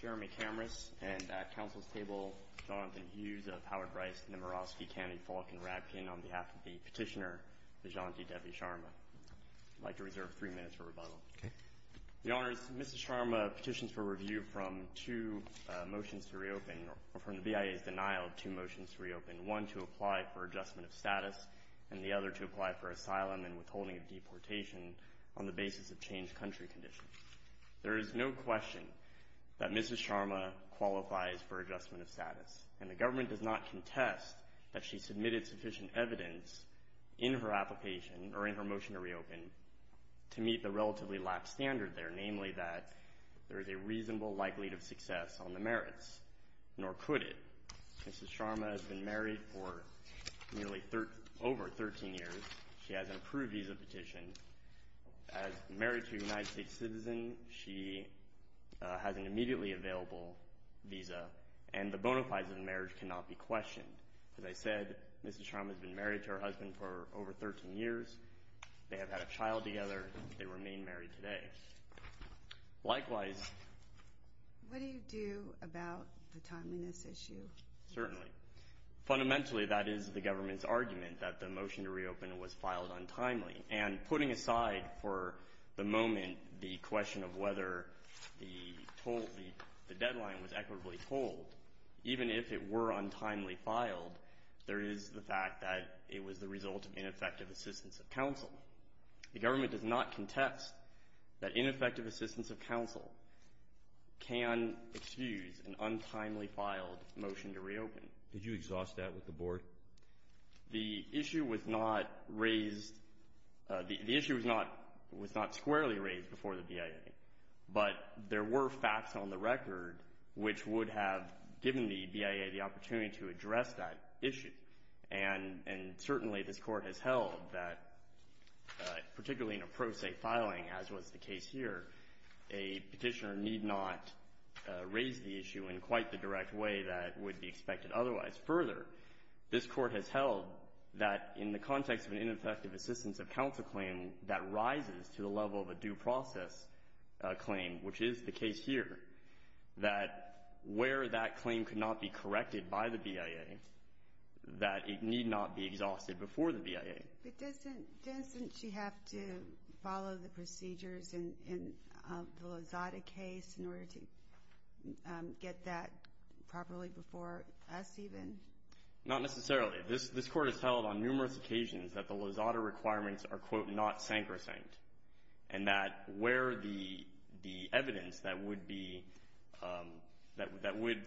Jeremy Kamras and at Council's table, Jonathan Hughes of Howard Rice, Nemirovsky, Kennedy, Falk, and Radkin on behalf of the petitioner, Vijanti Devi Sharma. I'd like to reserve three minutes for rebuttal. Okay. The honors, Mrs. Sharma petitions for review from two motions to reopen, or from the BIA's denial of two motions to reopen, one to apply for adjustment of status and the other to apply for asylum and withholding of deportation on the basis of changed country conditions. There is no question that Mrs. Sharma qualifies for adjustment of status and the government does not contest that she submitted sufficient evidence in her application or in her motion to reopen to meet the relatively lax standard there, namely that there is a reasonable likelihood of success on the merits, nor could it. Mrs. Sharma has been married for nearly over 13 years. She has an approved visa petition. As married to a United States citizen, she has an immediately available visa and the bonafides of the marriage cannot be questioned. As I said, Mrs. Sharma has been married to her husband for over 13 years. They have had a child together. They remain married today. Likewise. What do you do about the timeliness issue? Certainly. Fundamentally, that is the government's argument that the motion to reopen was filed untimely and putting aside for the moment the question of whether the deadline was equitably pulled, even if it were untimely filed, there is the fact that it was the result of ineffective assistance of counsel. The government does not contest that ineffective assistance of counsel can excuse an untimely filed motion to reopen. Did you exhaust that with the board? The issue was not raised. The issue was not was not squarely raised before the BIA, but there were facts on the record, which would have given the BIA the opportunity to address that issue. And certainly this court has held that particularly in a pro se filing as was the case here, a petitioner need not raise the issue in quite the direct way that would be expected. Otherwise, further, this court has held that in the context of an ineffective assistance of counsel claim that rises to the level of a due process claim, which is the case here, that where that claim could not be corrected by the BIA, that it need not be exhausted before the BIA. But doesn't she have to follow the procedures in the Lozada case in order to get that properly before us even? Not necessarily. This this court has held on numerous occasions that the Lozada requirements are quote not sacrosanct and that where the the evidence that would be that that would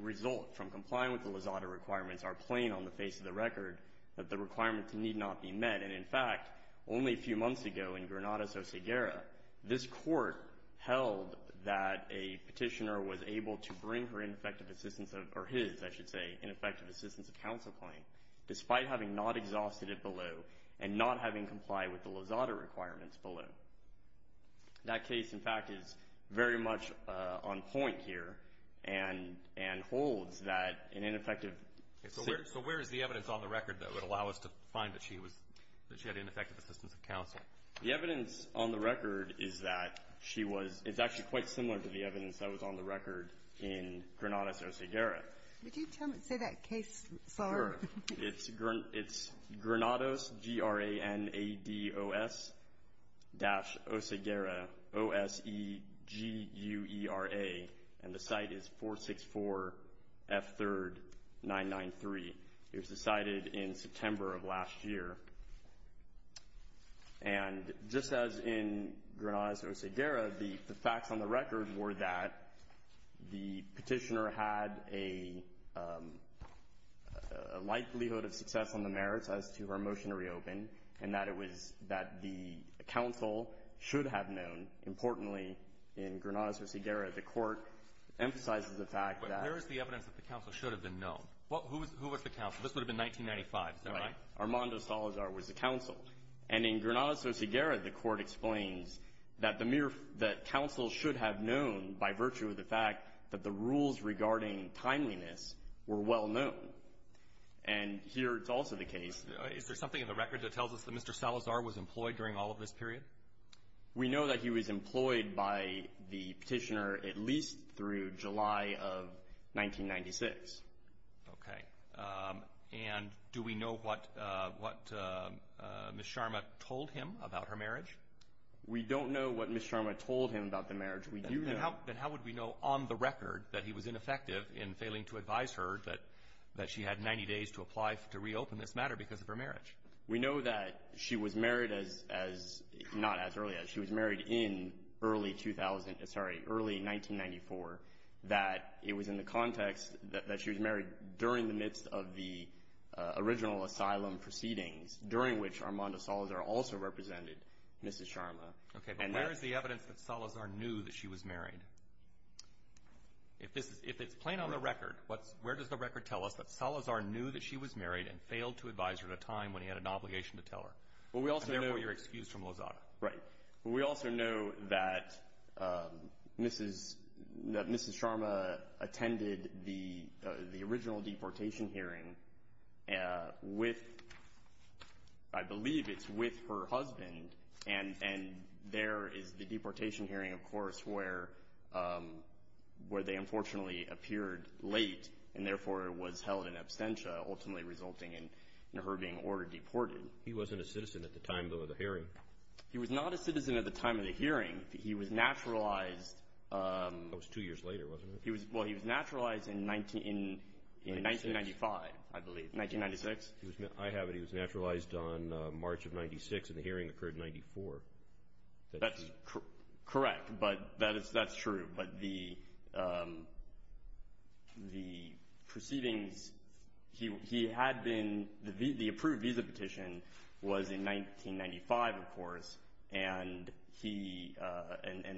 result from complying with the Lozada requirements are plain on the face of the record that the requirements need not be met. And in fact, only a few months ago in Granada, Soceguera, this court held that a petitioner was able to bring her ineffective assistance of, or his, I should say, ineffective assistance of counsel claim despite having not exhausted it below and not having complied with the Lozada requirements below. That case, in fact, is very much on point here and and holds that an ineffective. So where is the evidence on the record that would allow us to find that she was, that she had ineffective assistance of counsel? The evidence on the record is that she was, it's actually quite similar to the evidence that was on the record in Granada, Soceguera. Would you tell me, say that case? It's Granados, G-R-A-N-A-D-O-S dash Soceguera, O-S-E-G-U-E-R-A, and the site is 464 F 3rd 993. It was decided in September of last year. And just as in Granada, Soceguera, the facts on the record were that the petitioner had a likelihood of success on the merits as to her motion to reopen and that it was that the counsel should have known importantly in Granada, Soceguera, the court emphasizes the fact that Where is the evidence that the counsel should have been known? Who was the counsel? This would have been 1995, is that right? Armando Salazar was the counsel. And in Granada, Soceguera, the court explains that the mere, that counsel should have known by virtue of the fact that the rules regarding timeliness were well known. And here it's also the case. Is there something in the record that tells us that Mr. Salazar was employed during all of this period? We know that he was employed by the petitioner at least through July of 1996. And do we know what Ms. Sharma told him about her marriage? We don't know what Ms. Sharma told him about the marriage. Then how would we know on the record that he was ineffective in failing to advise her that she had 90 days to apply to reopen this matter because of her marriage? We know that she was married in early 1994, that it was in the midst of the original asylum proceedings during which Armando Salazar also represented Mrs. Sharma. Okay, but where is the evidence that Salazar knew that she was married? If it's plain on the record, where does the record tell us that Salazar knew that she was married and failed to advise her at a time when he had an obligation to tell her? And therefore you're excused from Lozada. Right. We also know that Mrs. Sharma attended the original deportation hearing with, I believe it's with her husband, and there is the deportation hearing, of course, where they unfortunately appeared late and therefore was held in absentia, ultimately resulting in her being ordered deported. He wasn't a citizen at the time, though, of the hearing. He was not a citizen at the time of the hearing. He was naturalized. That was two years later, wasn't it? Well, he was naturalized in 1995, I believe. 1996. I have it. He was naturalized on March of 1996, and the hearing occurred in 1994. That's correct, but that's true. But the proceedings, he had been, the approved visa petition was in 1995, of course, and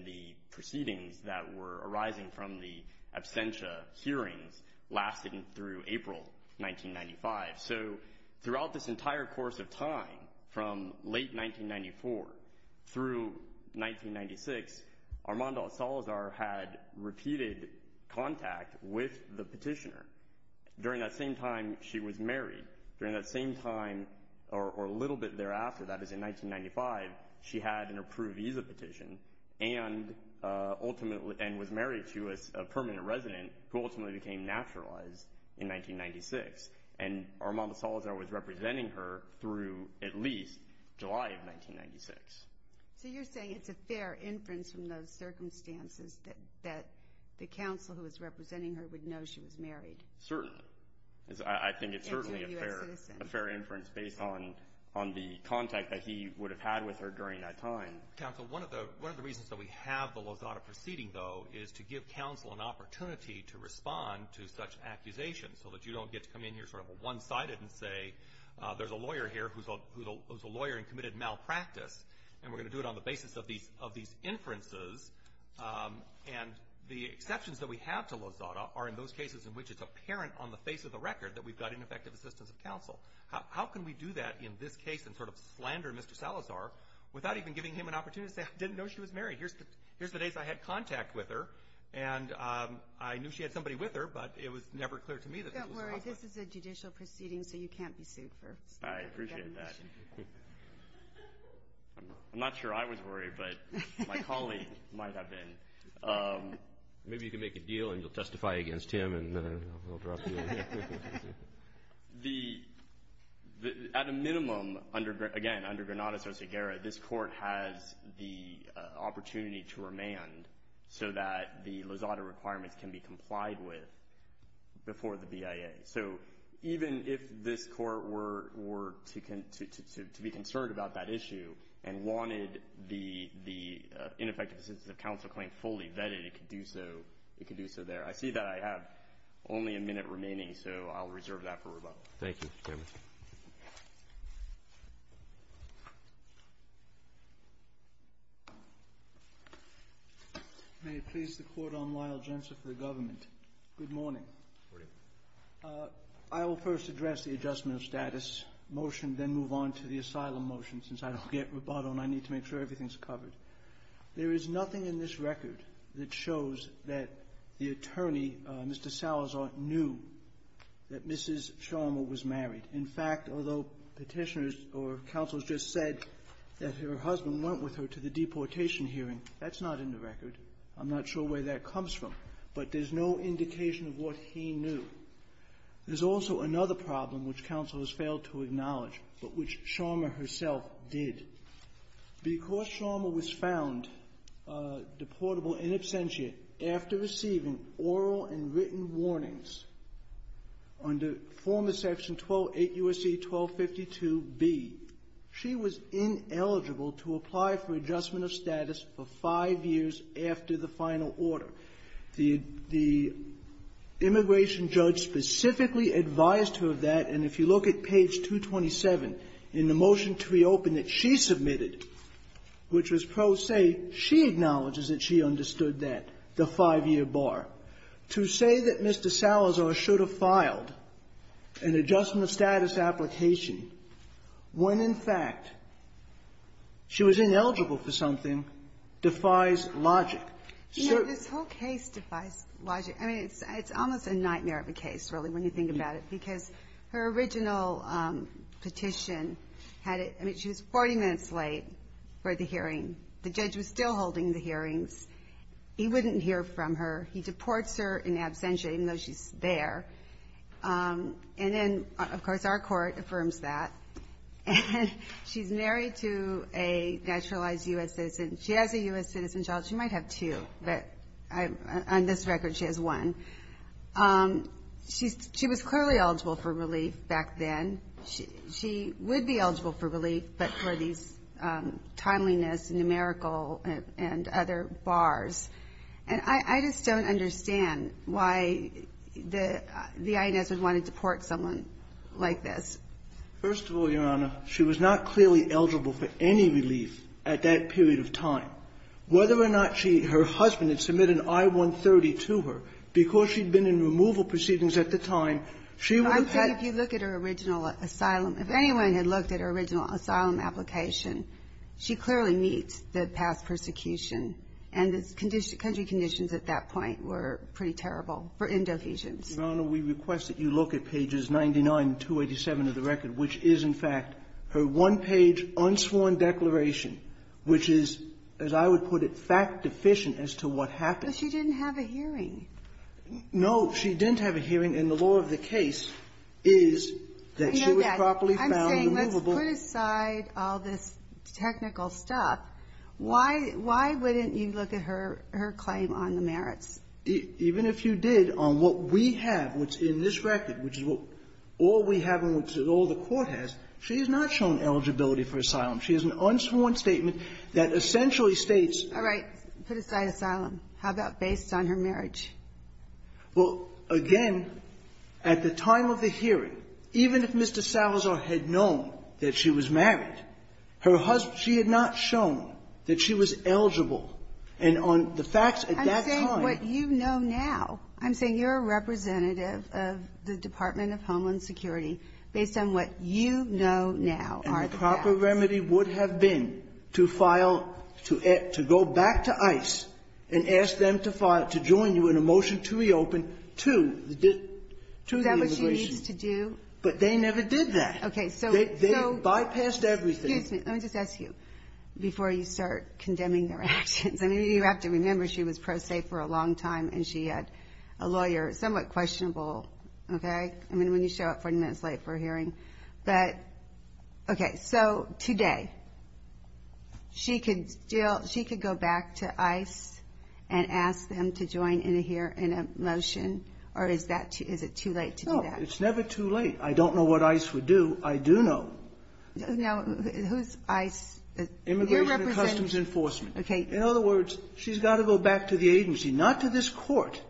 the proceedings that were arising from the absentia hearings lasted through April 1995. So throughout this entire course of time, from late 1994 through 1996, Armando Salazar had repeated contact with the petitioner. During that same time, she was married. During that same time, or a little bit thereafter, that is in 1995, she had an approved visa petition and ultimately, and was married to a permanent resident who ultimately became naturalized in 1996. And Armando Salazar was representing her through at least July of 1996. So you're saying it's a fair inference from those circumstances that the counsel who was representing her would know she was married? Certainly. I think it's certainly a fair inference based on the contact that he would have had with her during that time. Counsel, one of the reasons that we have the Lozada proceeding though, is to give counsel an opportunity to respond to such accusations, so that you don't get to come in here sort of one- sided and say, there's a lawyer here who's a lawyer and committed malpractice, and we're going to do it on the basis of these inferences. And the exceptions that we have to Lozada are in those cases in the face of the record that we've got ineffective assistance of counsel. How can we do that in this case and sort of slander Mr. Salazar without even giving him an opportunity to say, I didn't know she was married. Here's the days I had contact with her, and I knew she had somebody with her, but it was never clear to me. Don't worry. This is a judicial proceeding, so you can't be sued. I appreciate that. I'm not sure I was worried, but my colleague might have been. Maybe you can make a deal and you'll testify against him and I'll drop you. At a minimum, again, under Granada-Sarceguerra, this court has the opportunity to remand so that the Lozada requirements can be complied with before the BIA. So even if this court were to be concerned about that issue and wanted the ineffective assistance of counsel claim fully vetted, it could do so there. I see that I have only a minute remaining, so I'll reserve that for rebuttal. Thank you, Mr. Chairman. May it please the Court, I'm Lionel Jensen for the government. Good morning. I will first address the adjustment of status motion, then move on to the asylum motion, since I don't get rebuttal and I need to make sure everything's covered. There is nothing in this record that shows that the attorney, Mr. Salazar, knew that Mrs. Scharmer was married. In fact, although Petitioners or counsels just said that her husband went with her to the deportation hearing, that's not in the record. I'm not sure where that comes from, but there's no indication of what he knew. There's also another problem which counsel has failed to acknowledge, but which Scharmer herself did. Because Scharmer was found deportable in absentia after receiving oral and written warnings under former Section 128 U.S.C. 1252b, she was ineligible to apply for adjustment of status for five years after the final order. The immigration judge specifically advised her of that, and if you look at page 227 in the motion to reopen that she submitted, which was pro se, she acknowledges that she understood that, the five-year bar. To say that Mr. Salazar should have filed an adjustment of status application when, in fact, she was ineligible for something defies logic. You know, this whole case defies logic. I mean, it's almost a nightmare of a case, really, when you think about it, because her original petition had it – I mean, she was 40 minutes late for the hearing. The judge was still holding the hearings. He wouldn't hear from her. He deports her in absentia, even though she's there. And then, of course, our court affirms that. And she's married to a naturalized U.S. citizen. She has a U.S. citizen job. She might have two, but on this record, she has one. She was clearly eligible for relief back then. She would be eligible for relief, but for these timeliness, numerical, and other bars. And I just don't understand why the INS would want to deport someone like this. First of all, Your Honor, she was not clearly eligible for any relief at that period of time. Whether or not she – her husband had submitted an I-130 to her, because she'd been in removal proceedings at the time, she would have had – I'm saying if you look at her original asylum – if anyone had looked at her original asylum application, she clearly meets the past persecution. And the condition – country conditions at that point were pretty terrible for endohesions. Your Honor, we request that you look at pages 99 and 287 of the record, which is, in fact, her one-page, unsworn declaration, which is, as I would put it, fact-deficient as to what happened. But she didn't have a hearing. No. She didn't have a hearing. And the law of the case is that she was properly found removable. I'm saying let's put aside all this technical stuff. Why – why wouldn't you look at her claim on the merits? Even if you did, on what we have, which in this record, which is what all we have and which all the Court has, she has not shown eligibility for asylum. She has an unsworn statement that essentially states – All right. Put aside asylum. How about based on her marriage? Well, again, at the time of the hearing, even if Mr. Salazar had known that she was married, her husband – she had not shown that she was eligible. And on the facts at that time – I'm saying what you know now. I'm saying you're a representative of the Department of Homeland Security based on what you know now are the facts. And the proper remedy would have been to file – to go back to ICE and ask them to join you in a motion to reopen to the immigration. Is that what she needs to do? But they never did that. Okay. So they bypassed everything. Excuse me. Let me just ask you, before you start condemning their actions, I mean, you have to remember she was pro se for a long time and she had a lawyer, somewhat questionable, okay? I mean, when you show up 40 minutes late for a hearing. But, okay, so today she could go back to ICE and ask them to join in a motion, or is it too late to do that? No, it's never too late. I don't know what ICE would do. Now, who's ICE? Immigration and Customs Enforcement. In other words, she's got to go back to the agency, not to this Court.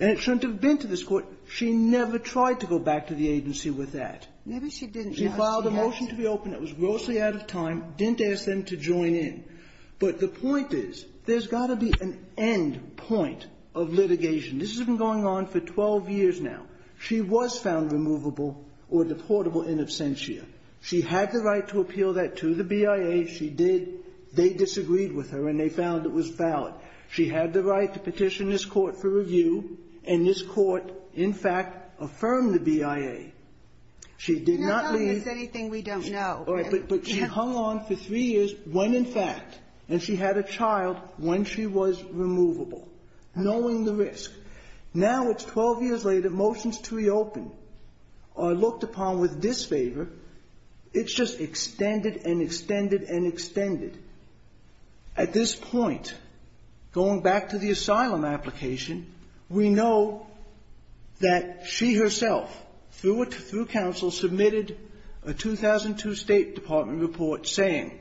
And it shouldn't have been to this Court. She never tried to go back to the agency with that. Maybe she didn't. She filed a motion to reopen. It was grossly out of time. Didn't ask them to join in. But the point is there's got to be an end point of litigation. This has been going on for 12 years now. She was found removable or deportable in absentia. She had the right to appeal that to the BIA. She did. They disagreed with her, and they found it was valid. She had the right to petition this Court for review, and this Court, in fact, affirmed the BIA. She did not leave. You're not telling us anything we don't know. All right. But she hung on for three years, when in fact, and she had a child when she was removable, knowing the risk. Now it's 12 years later, motions to reopen are looked upon with disfavor. It's just extended and extended and extended. At this point, going back to the asylum application, we know that she herself, through counsel, submitted a 2002 State Department report saying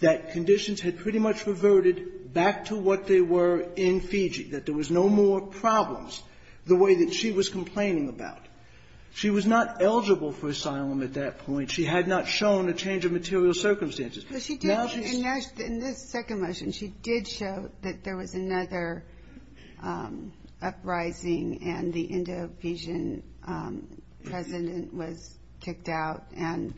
that conditions had pretty much reverted back to what they were in Fiji, that there was no more problems the way that she was complaining about. She was not eligible for asylum at that point. She had not shown a change of material circumstances. Now she's -- But she did, in this second motion, she did show that there was another uprising and the Indo-Fijian president was kicked out. And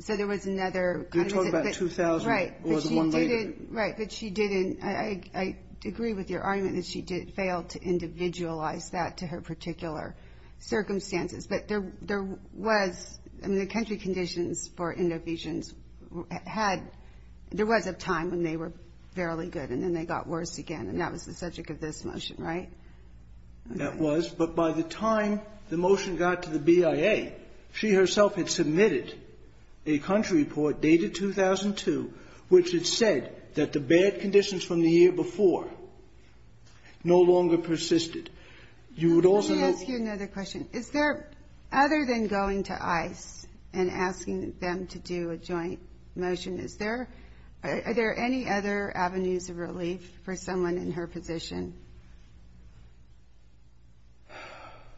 so there was another kind of ---- You're talking about 2000 or the one later. Right. But she didn't. I agree with your argument that she did fail to individualize that to her particular circumstances. But there was ---- I mean, the country conditions for Indo-Fijians had ---- there was a time when they were fairly good, and then they got worse again, and that was the subject of this motion, right? That was. But by the time the motion got to the BIA, she herself had submitted a country report dated 2002 which had said that the bad conditions from the year before no longer persisted. You would also know ---- Let me ask you another question. Is there, other than going to ICE and asking them to do a joint motion, is there ---- are there any other avenues of relief for someone in her position?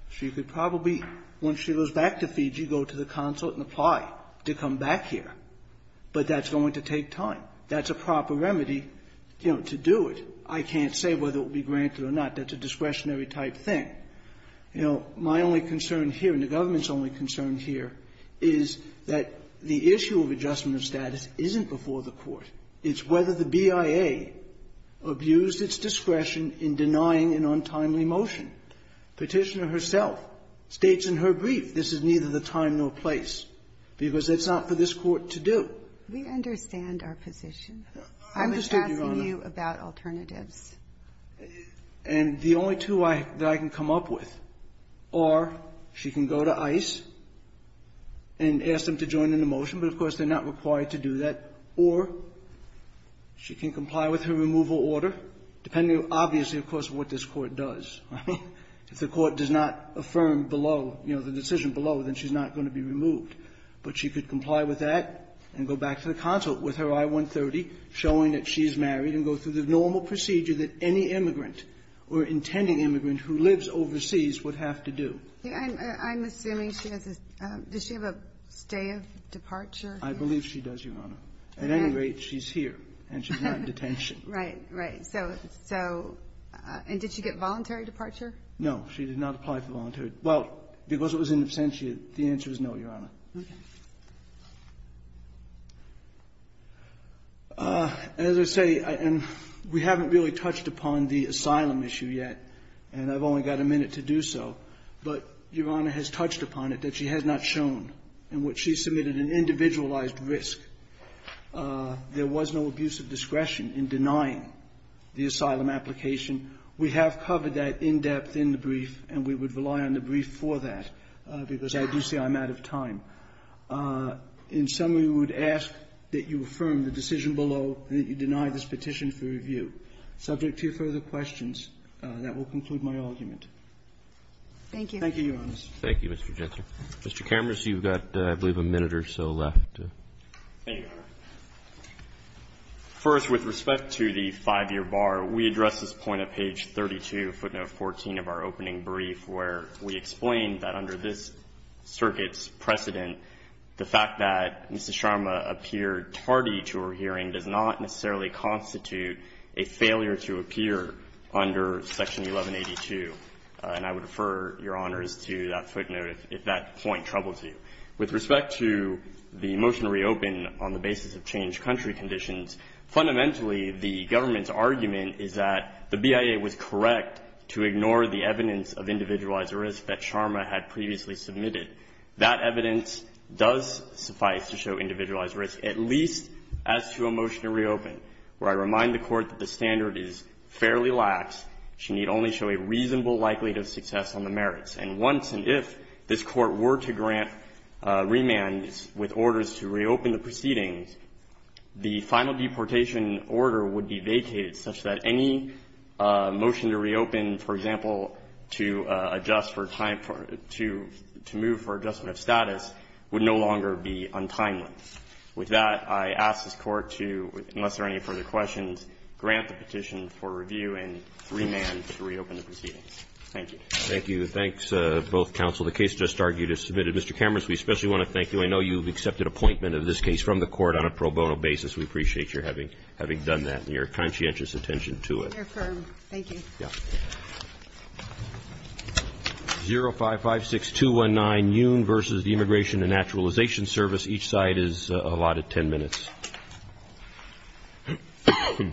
She could probably, when she goes back to Fiji, go to the consulate and apply to come back here. But that's going to take time. That's a proper remedy, you know, to do it. I can't say whether it will be granted or not. That's a discretionary type thing. You know, my only concern here, and the government's only concern here, is that the issue of adjustment of status isn't before the Court. It's whether the BIA abused its discretion in denying an untimely motion. Petitioner herself states in her brief, this is neither the time nor place, because it's not for this Court to do. We understand our position. I'm just asking you about alternatives. And the only two I can come up with are she can go to ICE and ask them to join in the motion, but, of course, they're not required to do that, or she can comply with her removal order, depending, obviously, of course, what this Court does. If the Court does not affirm below, you know, the decision below, then she's not going to be removed. But she could comply with that and go back to the consulate with her I-130, showing that she's married, and go through the normal procedure that any immigrant or intending immigrant who lives overseas would have to do. I'm assuming she has a stay of departure. I believe she does, Your Honor. At any rate, she's here, and she's not in detention. Right. Right. So, so, and did she get voluntary departure? No. She did not apply for voluntary. Well, because it was in absentia, the answer is no, Your Honor. Okay. As I say, and we haven't really touched upon the asylum issue yet, and I've only got a minute to do so, but Your Honor has touched upon it, that she has not shown in which she submitted an individualized risk. There was no abuse of discretion in denying the asylum application. We have covered that in depth in the brief, and we would rely on the brief for that, because I do say I'm out of time. In summary, we would ask that you affirm the decision below that you deny this petition for review. Subject to your further questions, that will conclude my argument. Thank you. Thank you, Your Honor. Thank you, Mr. Jensen. Mr. Kammers, you've got, I believe, a minute or so left. Thank you, Your Honor. First, with respect to the 5-year bar, we address this point at page 32, footnote 14 of our opening brief, where we explain that under this circuit's precedent, the fact that Mrs. Sharma appeared tardy to her hearing does not necessarily constitute a failure to appear under Section 1182. And I would refer Your Honors to that footnote if that point troubles you. With respect to the motion to reopen on the basis of changed country conditions, fundamentally, the government's argument is that the BIA was correct to ignore the evidence of individualized risk that Sharma had previously submitted. That evidence does suffice to show individualized risk, at least as to a motion to reopen, where I remind the Court that the standard is fairly lax. She need only show a reasonable likelihood of success on the merits. And once and if this Court were to grant remands with orders to reopen the proceedings, the final deportation order would be vacated such that any motion to reopen, for example, to adjust for time for to move for adjustment of status, would no longer be untimely. With that, I ask this Court to, unless there are any further questions, grant the petition for review and remand to reopen the proceedings. Thank you. Roberts. Thank you. Thanks, both counsel. The case just argued is submitted. Mr. Cameron, we especially want to thank you. I know you've accepted appointment of this case from the Court on a pro bono basis. We appreciate your having done that and your conscientious attention to it. I affirm. Thank you. 0556219, Nguyen v. Immigration and Naturalization Service. Each side is allotted 10 minutes. 0556214, Nguyen v. Immigration and Naturalization Service.